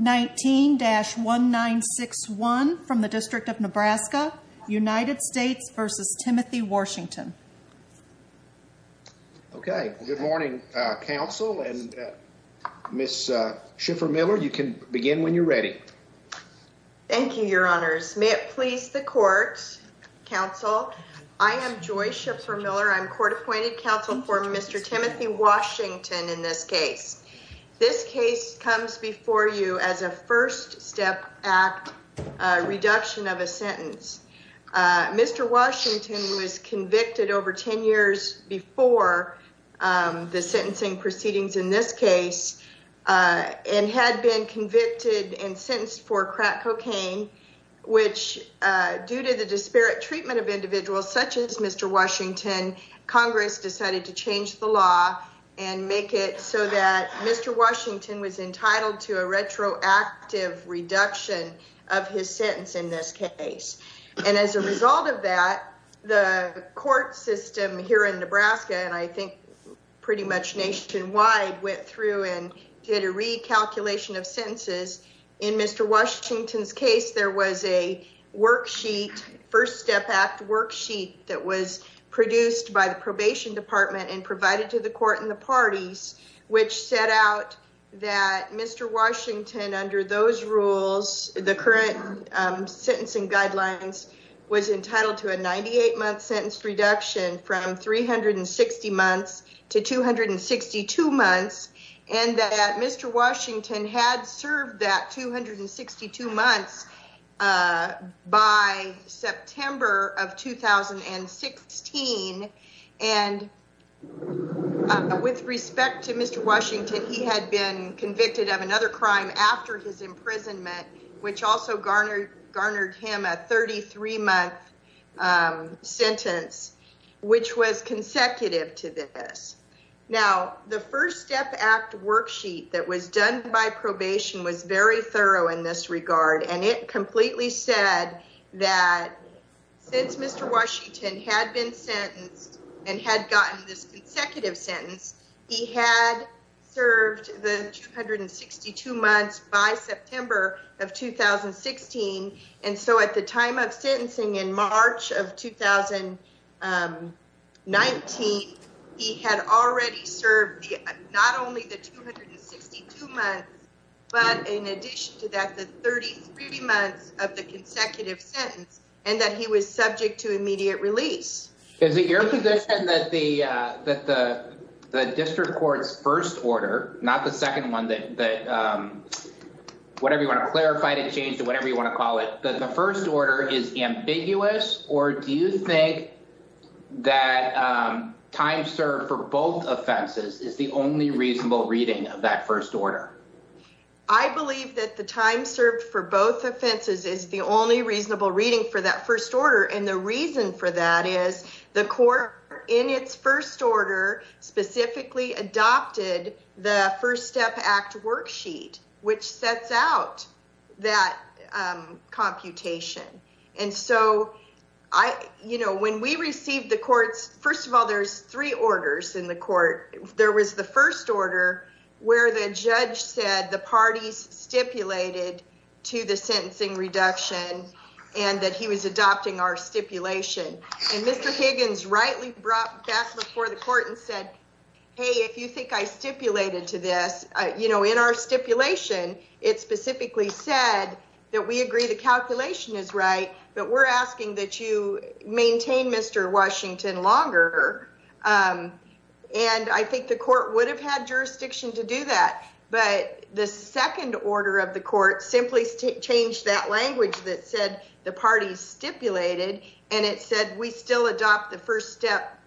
19-1961 from the District of Nebraska, United States v. Timothy Washington okay good morning counsel and Miss Schiffer-Miller you can begin when you're ready. Thank you your honors may it please the court counsel I am Joy Schiffer-Miller I'm court-appointed counsel for Mr. Timothy Washington in this case. This case comes before you as a First Step Act reduction of a sentence. Mr. Washington was convicted over 10 years before the sentencing proceedings in this case and had been convicted and sentenced for crack cocaine which due to the disparate treatment of individuals such as Mr. Washington Congress decided to change the law and make it so that Mr. Washington was entitled to a retroactive reduction of his sentence in this case and as a result of that the court system here in Nebraska and I think pretty much nationwide went through and did a recalculation of sentences. In Mr. Washington's case there was a worksheet First Step Act worksheet that was produced by the Probation Department and provided to the court and the parties which set out that Mr. Washington under those rules the current sentencing guidelines was entitled to a 98 month sentence reduction from 360 months to 262 months and that Mr. Washington had served that 262 months by September of 2016 and with respect to Mr. Washington he had been convicted of another crime after his imprisonment which also garnered him a 33 month sentence which was consecutive to this. Now the First Step Act worksheet that was done by probation was very thorough in this regard and it completely said that since Mr. Washington had been sentenced and had gotten this consecutive sentence he had served the 262 months by September of 2016 and so at the time of sentencing in March of 2019 he had already served not only the 262 months but in addition to that the 33 months of the consecutive sentence and that he was subject to immediate release. Is it your position that the that the district court's first order not the second one that whatever you want to clarify to change to whatever you want to call it that the first order is ambiguous or do you think that time served for both offenses is the only reasonable reading of that first order? I believe that the time served for both offenses is the only reasonable reading for that first order and the reason for that is the court in its first order specifically adopted the First Step Act worksheet which sets out that computation and so I you know when we received the courts first of all there's three orders in the court there was the first order where the judge said the parties stipulated to the sentencing reduction and that he was adopting our stipulation and Mr. Higgins rightly brought back before the court and said hey if you think I stipulated to this you know in our stipulation it specifically said that we agree the calculation is right but we're asking that you maintain Mr. Washington longer and I think the court would have had jurisdiction to do that but the second order of the court simply changed that language that said the parties stipulated and it said we still adopt the first step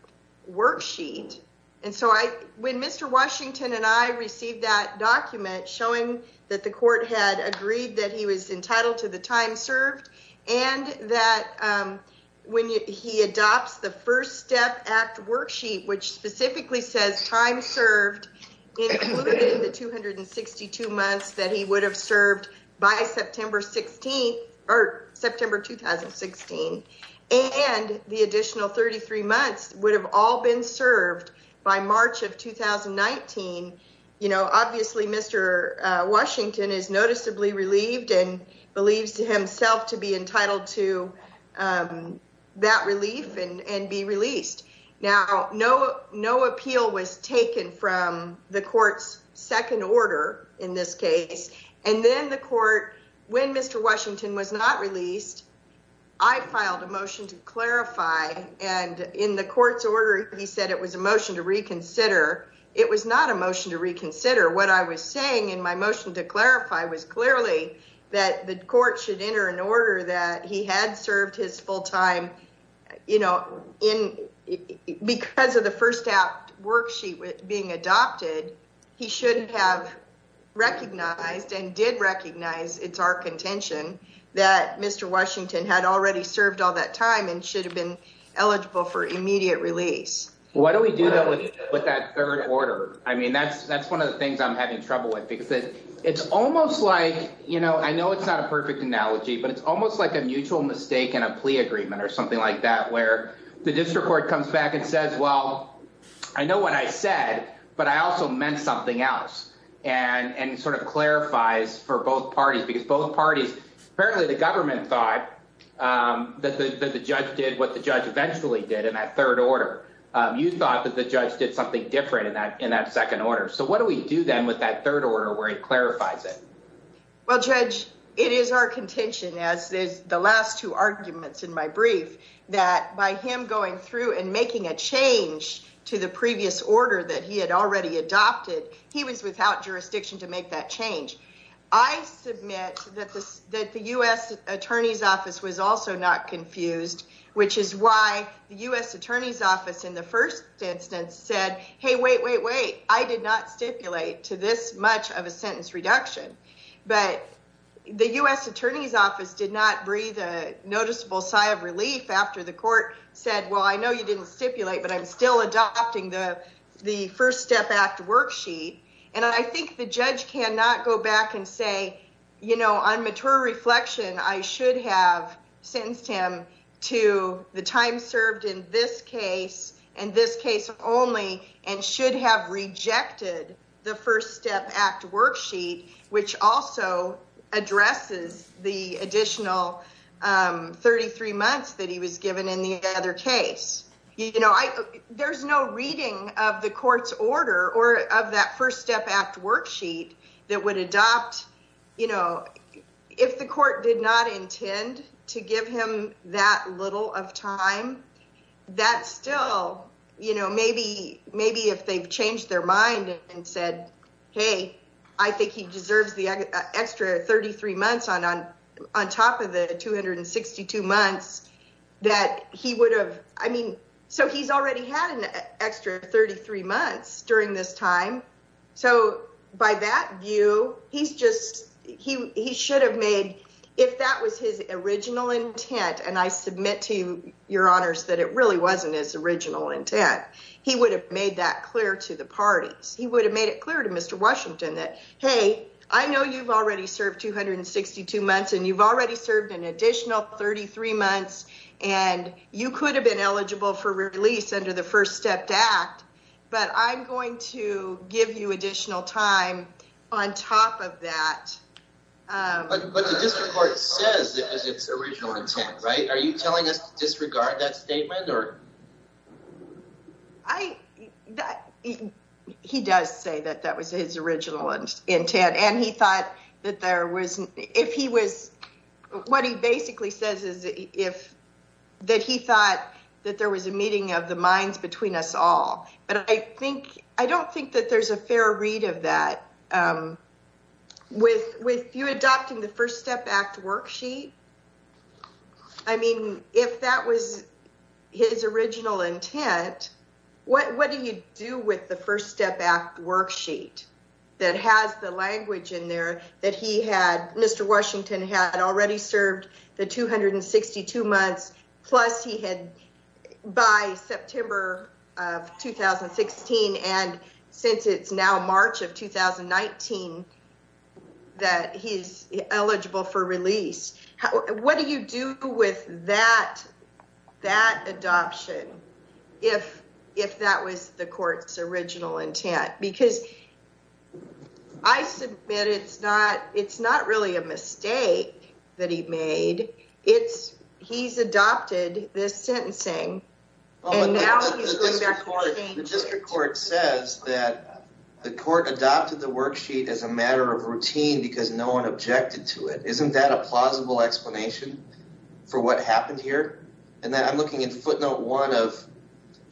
worksheet and so I when Mr. Washington and I received that document showing that the court had agreed that he was entitled to the time served and that when he adopts the first step act worksheet which specifically says time served in the 262 months that he would have served by September 16th or September 2016 and the additional 33 months would have all been served by March of 2019 you know obviously Mr. Washington is noticeably relieved and believes to himself to be entitled to that relief and and be released now no no appeal was taken from the court's second order in this case and then the court when Mr. Washington was not released I filed a motion to clarify and in the court's order he said it was a motion to reconsider it was not a motion to reconsider what I was saying in my motion to clarify was clearly that the court should enter an order that he had served his full time you know in because of the first out worksheet with being adopted he shouldn't have recognized and did recognize it's our contention that mr. Washington had already served all that time and should have been eligible for immediate release why don't we do that with that third order I mean that's that's one of the things I'm having trouble with because it it's almost like you know I know it's not a perfect analogy but it's almost like a mutual mistake and a plea agreement or something like that where the district court comes back and says well I know what I said but I also meant something else and and sort of clarifies for both parties because both parties apparently the government thought that the judge did what the judge eventually did in that third order you thought that the judge did something different in that in that second order so what do we do then with that third order where it is the last two arguments in my brief that by him going through and making a change to the previous order that he had already adopted he was without jurisdiction to make that change I submit that this that the US Attorney's Office was also not confused which is why the US Attorney's Office in the first instance said hey wait wait wait I did not stipulate to this much of a noticeable sigh of relief after the court said well I know you didn't stipulate but I'm still adopting the the First Step Act worksheet and I think the judge cannot go back and say you know on mature reflection I should have sentenced him to the time served in this case and this case only and should have rejected the First Step Act worksheet which also addresses the additional 33 months that he was given in the other case you know I there's no reading of the court's order or of that First Step Act worksheet that would adopt you know if the court did not intend to give him that little of time that still you know maybe maybe if they've changed their mind and said hey I think he deserves the extra 33 months on on on top of the 262 months that he would have I mean so he's already had an extra 33 months during this time so by that view he's just he should have made if that was his original intent and I submit to you your honors that it really wasn't his original intent he would have made that clear to the parties he would have made it clear to mr. Washington that hey I know you've already served 262 months and you've already served an additional 33 months and you could have been eligible for release under the First Step Act but I'm going to give you additional time on top of that he does say that that was his original intent and he thought that there was if he was what he basically says is if that he thought that there was a meeting of the minds between us all but I think I don't think that there's a fair read of that with with you adopting the First Step Act worksheet I mean if that was his worksheet that has the language in there that he had mr. Washington had already served the 262 months plus he had by September of 2016 and since it's now March of 2019 that he's eligible for release what do you do with that that adoption if if that was the court's original intent because I said it's not it's not really a mistake that he made it's he's adopted this sentencing the court adopted the worksheet as a matter of routine because no one objected to it isn't that a plausible explanation for what happened here and then I'm looking at footnote one of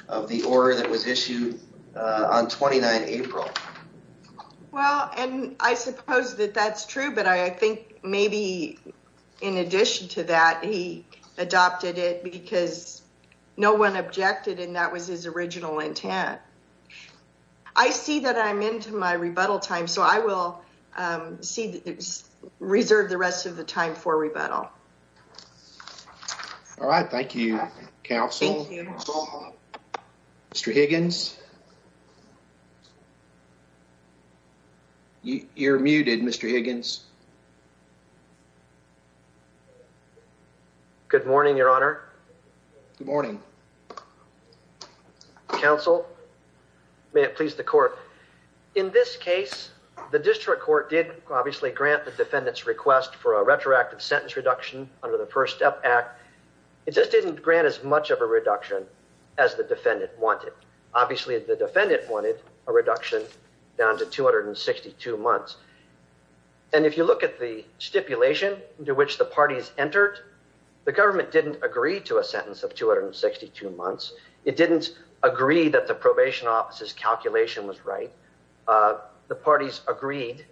of the order that was issued on 29 April well and I suppose that that's true but I think maybe in addition to that he adopted it because no one objected and that was his original intent I see that I'm into my rebuttal time so I will see that there's reserved the rest of the time for all right thank you counsel mr. Higgins you're muted mr. Higgins good morning your honor good morning counsel may it please the court in this case the district court did obviously grant the defendants request for a retroactive sentence reduction under the first step act it just didn't grant as much of a reduction as the defendant wanted obviously the defendant wanted a reduction down to 262 months and if you look at the stipulation into which the parties entered the government didn't agree to a sentence of 262 months it didn't agree that the probation office's calculation was right the parties agreed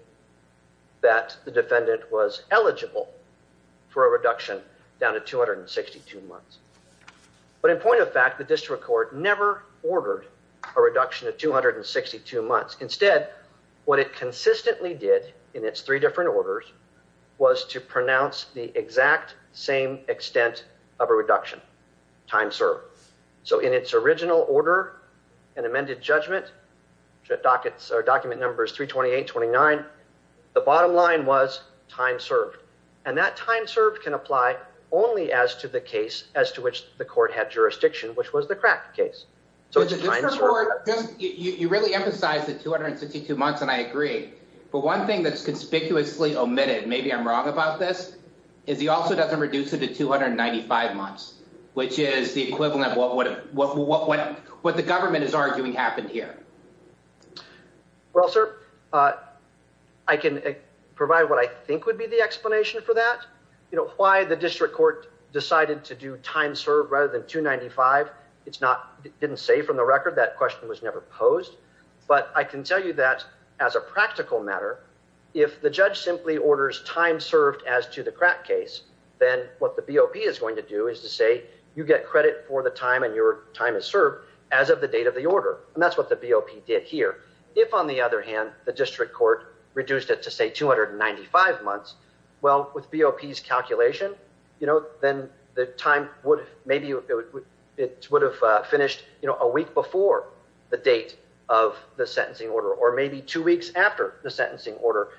that the defendant was eligible for a reduction down to 262 months but in point of fact the district court never ordered a reduction of 262 months instead what it consistently did in its three different orders was to pronounce the exact same extent of a reduction time served so in its original order and amended judgment dockets our document numbers 328 29 the bottom line was time served and that time served can apply only as to the case as to which the court had jurisdiction which was the crack case so it's just you really emphasize the 262 months and I agree but one thing that's conspicuously omitted maybe I'm wrong about this is he also doesn't reduce it to 295 months which is the equivalent of what would what what what the government is arguing happened here well sir I can provide what I think would be the explanation for that you know why the district court decided to do time served rather than 295 it's not didn't say from the record that question was never posed but I can tell you that as a practical matter if the judge simply orders time served as to the crack case then what the BOP is going to do is to say you get credit for the time and your time is served as of the date of the order and that's what the BOP did here if on the other hand the district court reduced it to say 295 months well with BOPs calculation you know then the time would maybe it would have finished you know a week before the date of the sentencing order or maybe two weeks after the sentencing order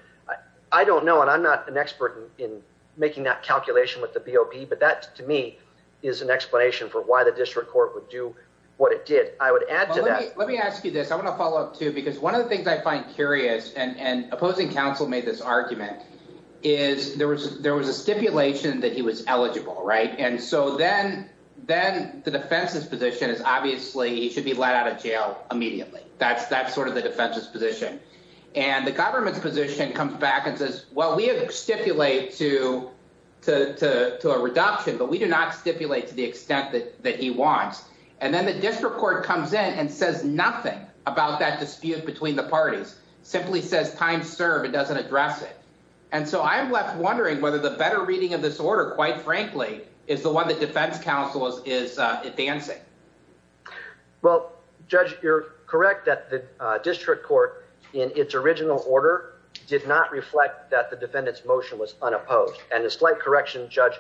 I don't know and I'm not an expert in making that calculation with the BOP but that to me is an explanation for why the district court would do what it did I would add to that let me ask you this I want to follow up to because one of the things I find curious and and opposing counsel made this argument is there was there was a stipulation that he was eligible right and so then then the defense's position is obviously he should be let out of jail immediately that's that's sort of the defense's position and the government's position comes back and says well we have stipulate to to to a reduction but we do not stipulate to the extent that that he wants and then the dispute between the parties simply says time served it doesn't address it and so I'm left wondering whether the better reading of this order quite frankly is the one that defense counsel is advancing well judge you're correct that the district court in its original order did not reflect that the defendants motion was unopposed and a slight correction judge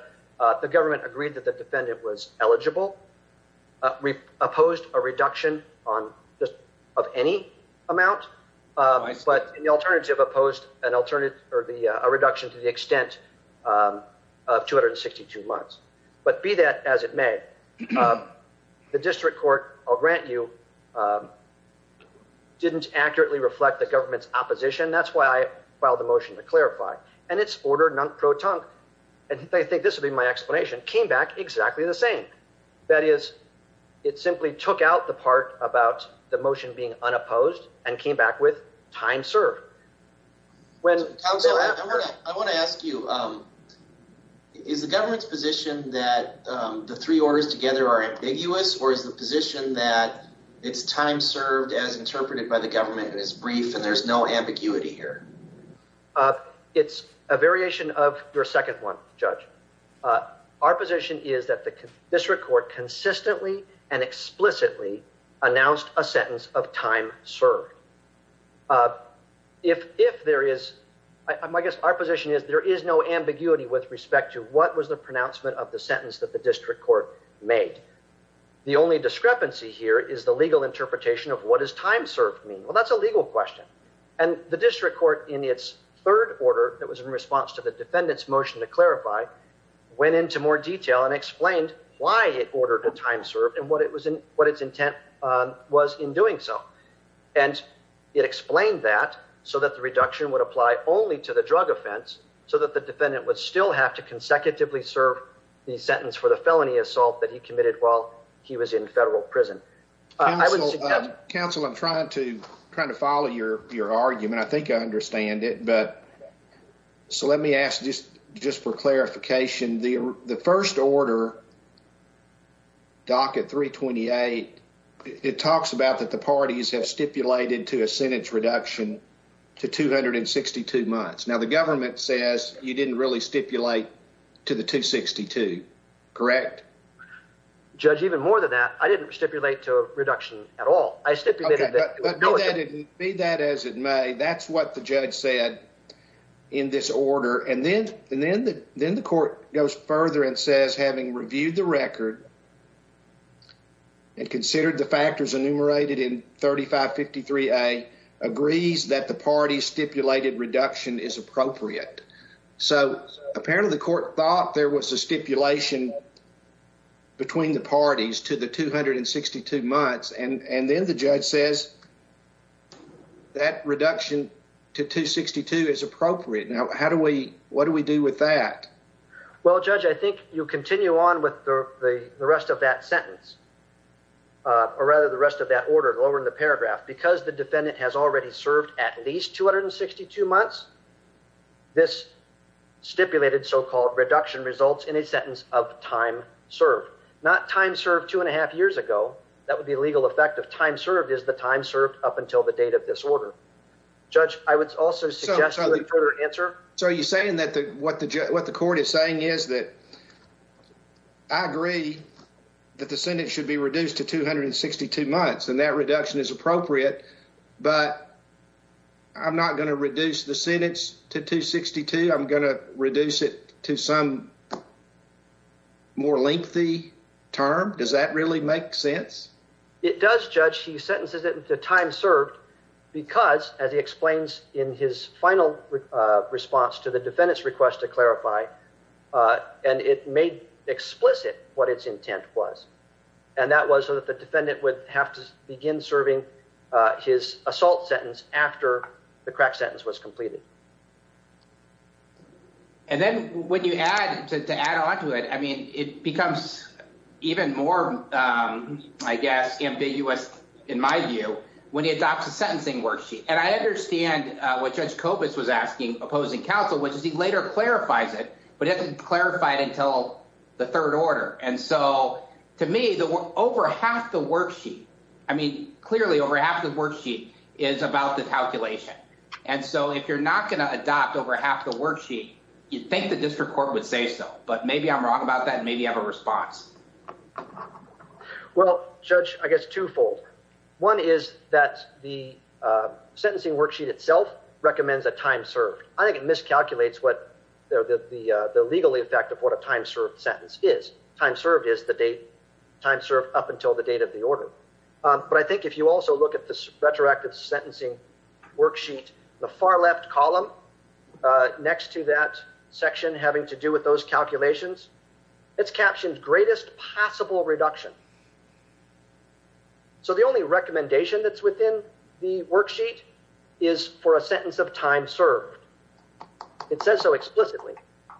the government agreed that the defendant was eligible we opposed a reduction on just of any amount but in the alternative opposed an alternative or the reduction to the extent of 262 months but be that as it may the district court I'll grant you didn't accurately reflect the government's opposition that's why I filed a motion to clarify and it's ordered non-proton and they think this would be my explanation came back exactly the same that is it simply took out the part about the motion being unopposed and came back with time served when I want to ask you is the government's position that the three orders together are ambiguous or is the position that it's time served as interpreted by the government is brief and there's no ambiguity here it's a our position is that the district court consistently and explicitly announced a sentence of time served if if there is I guess our position is there is no ambiguity with respect to what was the pronouncement of the sentence that the district court made the only discrepancy here is the legal interpretation of what is time served me well that's a legal question and the district court in its third order that was in response to the defendant's motion to clarify went into more detail and explained why it ordered the time served and what it was in what its intent was in doing so and it explained that so that the reduction would apply only to the drug offense so that the defendant would still have to consecutively serve the sentence for the felony assault that he committed while he was in federal prison I would counsel I'm trying to kind of follow your your I think I understand it but so let me ask just just for clarification the the first order docket 328 it talks about that the parties have stipulated to a sentence reduction to 262 months now the government says you didn't really stipulate to the 262 correct judge even more than that I didn't stipulate to a that as it may that's what the judge said in this order and then and then the then the court goes further and says having reviewed the record and considered the factors enumerated in 3553 a agrees that the party stipulated reduction is appropriate so apparently the court thought there was a stipulation between the parties to the 262 months and and then the judge says that reduction to 262 is appropriate now how do we what do we do with that well judge I think you continue on with the rest of that sentence or rather the rest of that order over in the paragraph because the defendant has already served at least 262 months this stipulated so-called reduction results in a sentence of time served not time served two and a half years ago that would be legal effective time served is the time served up until the date of this order judge I would also suggest answer so you saying that the what the judge what the court is saying is that I agree that the Senate should be reduced to 262 months and that reduction is appropriate but I'm not going to reduce the sentence to 262 I'm reduce it to some more lengthy term does that really make sense it does judge he sentences it with the time served because as he explains in his final response to the defendants request to clarify and it made explicit what its intent was and that was so that the defendant would have to begin serving his assault sentence after the crack sentence was completed and then when you add to add on to it I mean it becomes even more I guess ambiguous in my view when he adopts a sentencing worksheet and I understand what judge copas was asking opposing counsel which is he later clarifies it but it's clarified until the third order and so to me that we're over half the worksheet I mean clearly over half the worksheet is about the calculation and so if you're not gonna adopt over half the worksheet you think the district court would say so but maybe I'm wrong about that maybe have a response well judge I guess twofold one is that the sentencing worksheet itself recommends a time served I think it miscalculates what the the the legal effect of what a time served sentence is time served is the date time served up until the date of the order but I think if you also look at this retroactive sentencing worksheet the far left column next to that section having to do with those calculations it's captioned greatest possible reduction so the only recommendation that's within the worksheet is for a sentence of time served it says so explicitly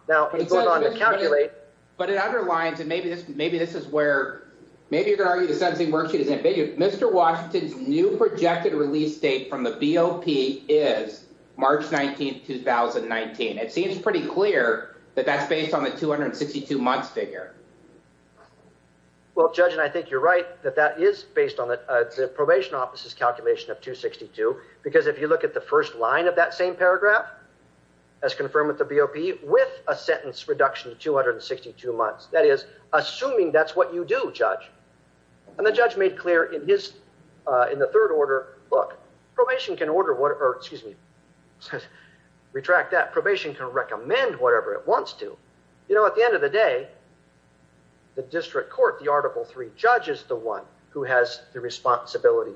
now it's going on to calculate but it underlines and maybe this maybe this is where maybe you're gonna argue the sentencing worksheet is ambiguous mr. Washington's new projected release date from the BOP is March 19th 2019 it seems pretty clear that that's based on the 262 months figure well judge and I think you're right that that is based on the probation office's calculation of 262 because if you look at the first line of that same paragraph as confirmed with the BOP with a sentence reduction of 262 months that is assuming that's what you do judge and the judge made clear in his in the third order look probation can order whatever excuse me retract that probation can recommend whatever it wants to you know at the end of the day the district court the article 3 judges the one who has the responsibility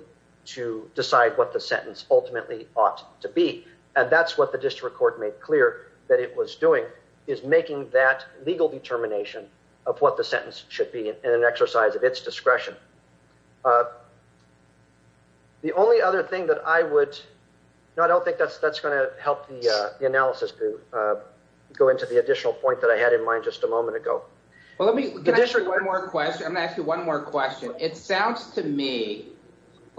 to decide what the sentence ultimately ought to be and that's what the district court made clear that it was doing is making that legal determination of what the sentence should be an exercise of its discretion the only other thing that I would know I don't think that's that's going to help the analysis to go into the additional point that I had in mind just a moment ago well let me get this one more question I'm gonna ask you one more question it sounds to me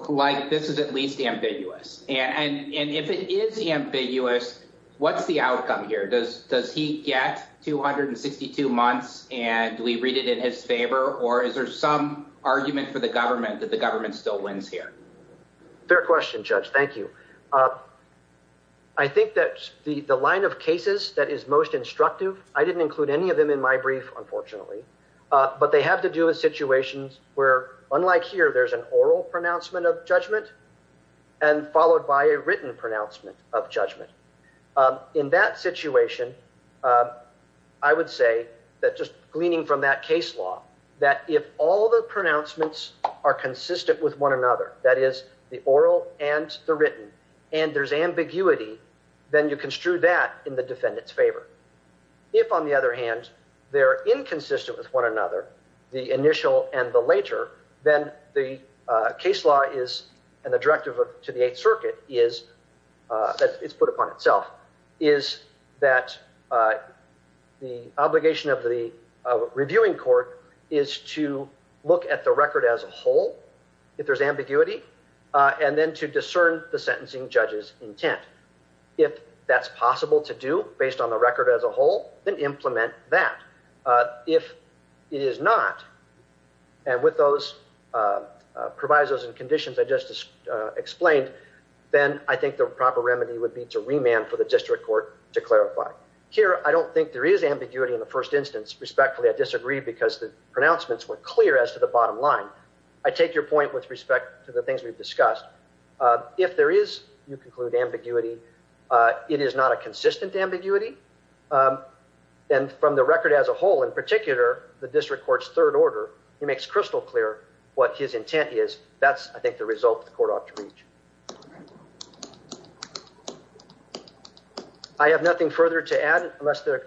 like this is at and if it is the ambiguous what's the outcome here does does he get 262 months and we read it in his favor or is there some argument for the government that the government still wins here their question judge thank you I think that the the line of cases that is most instructive I didn't include any of them in my brief unfortunately but they have to do with situations where unlike here there's an oral pronouncement of judgment and followed by a written pronouncement of judgment in that situation I would say that just gleaning from that case law that if all the pronouncements are consistent with one another that is the oral and the written and there's ambiguity then you can strew that in the defendant's favor if on the other hand they're inconsistent with one another the initial and the later then the case law is and the directive of to the Eighth Circuit is that it's put upon itself is that the obligation of the reviewing court is to look at the record as a whole if there's ambiguity and then to discern the sentencing judges intent if that's to do based on the record as a whole and implement that if it is not and with those provisos and conditions I just explained then I think the proper remedy would be to remand for the district court to clarify here I don't think there is ambiguity in the first instance respectfully I disagree because the pronouncements were clear as to the bottom line I take your point with respect to the things we've discussed if there is you conclude ambiguity it is not a consistent ambiguity and from the record as a whole in particular the district courts third order he makes crystal clear what his intent is that's I think the result the court ought to reach I have nothing further to add unless the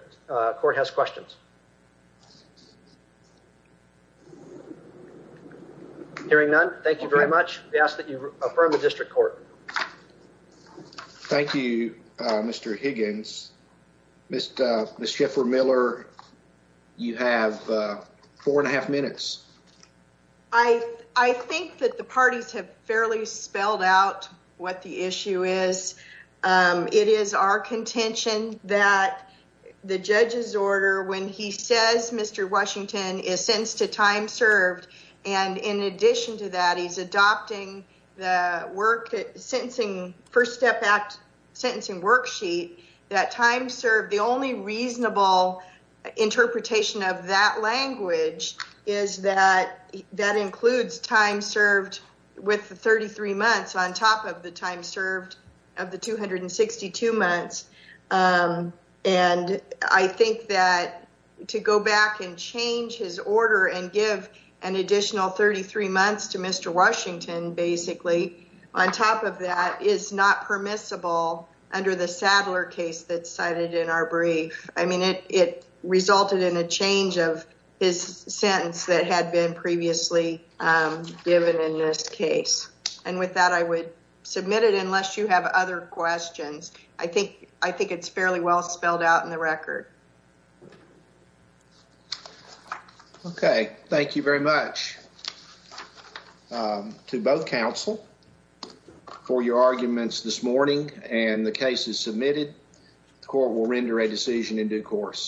court has questions hearing none thank you very much we ask that you Mr. Higgins, Ms. Schiffer-Miller you have four and a half minutes I I think that the parties have fairly spelled out what the issue is it is our contention that the judge's order when he says Mr. Washington is sentenced to time served and in addition to that he's adopting the work sentencing first step act sentencing worksheet that time served the only reasonable interpretation of that language is that that includes time served with the 33 months on top of the time served of the 262 months and I think that to go back and change his order and give an additional 33 months to Mr. Washington basically on top of that is not permissible under the Sadler case that's cited in our brief I mean it it resulted in a change of his sentence that had been previously given in this case and with that I would submit it unless you have other questions I think I think it's fairly well spelled out in the record okay thank you very much to both counsel for your arguments this morning and the case is submitted the court will render a decision in due course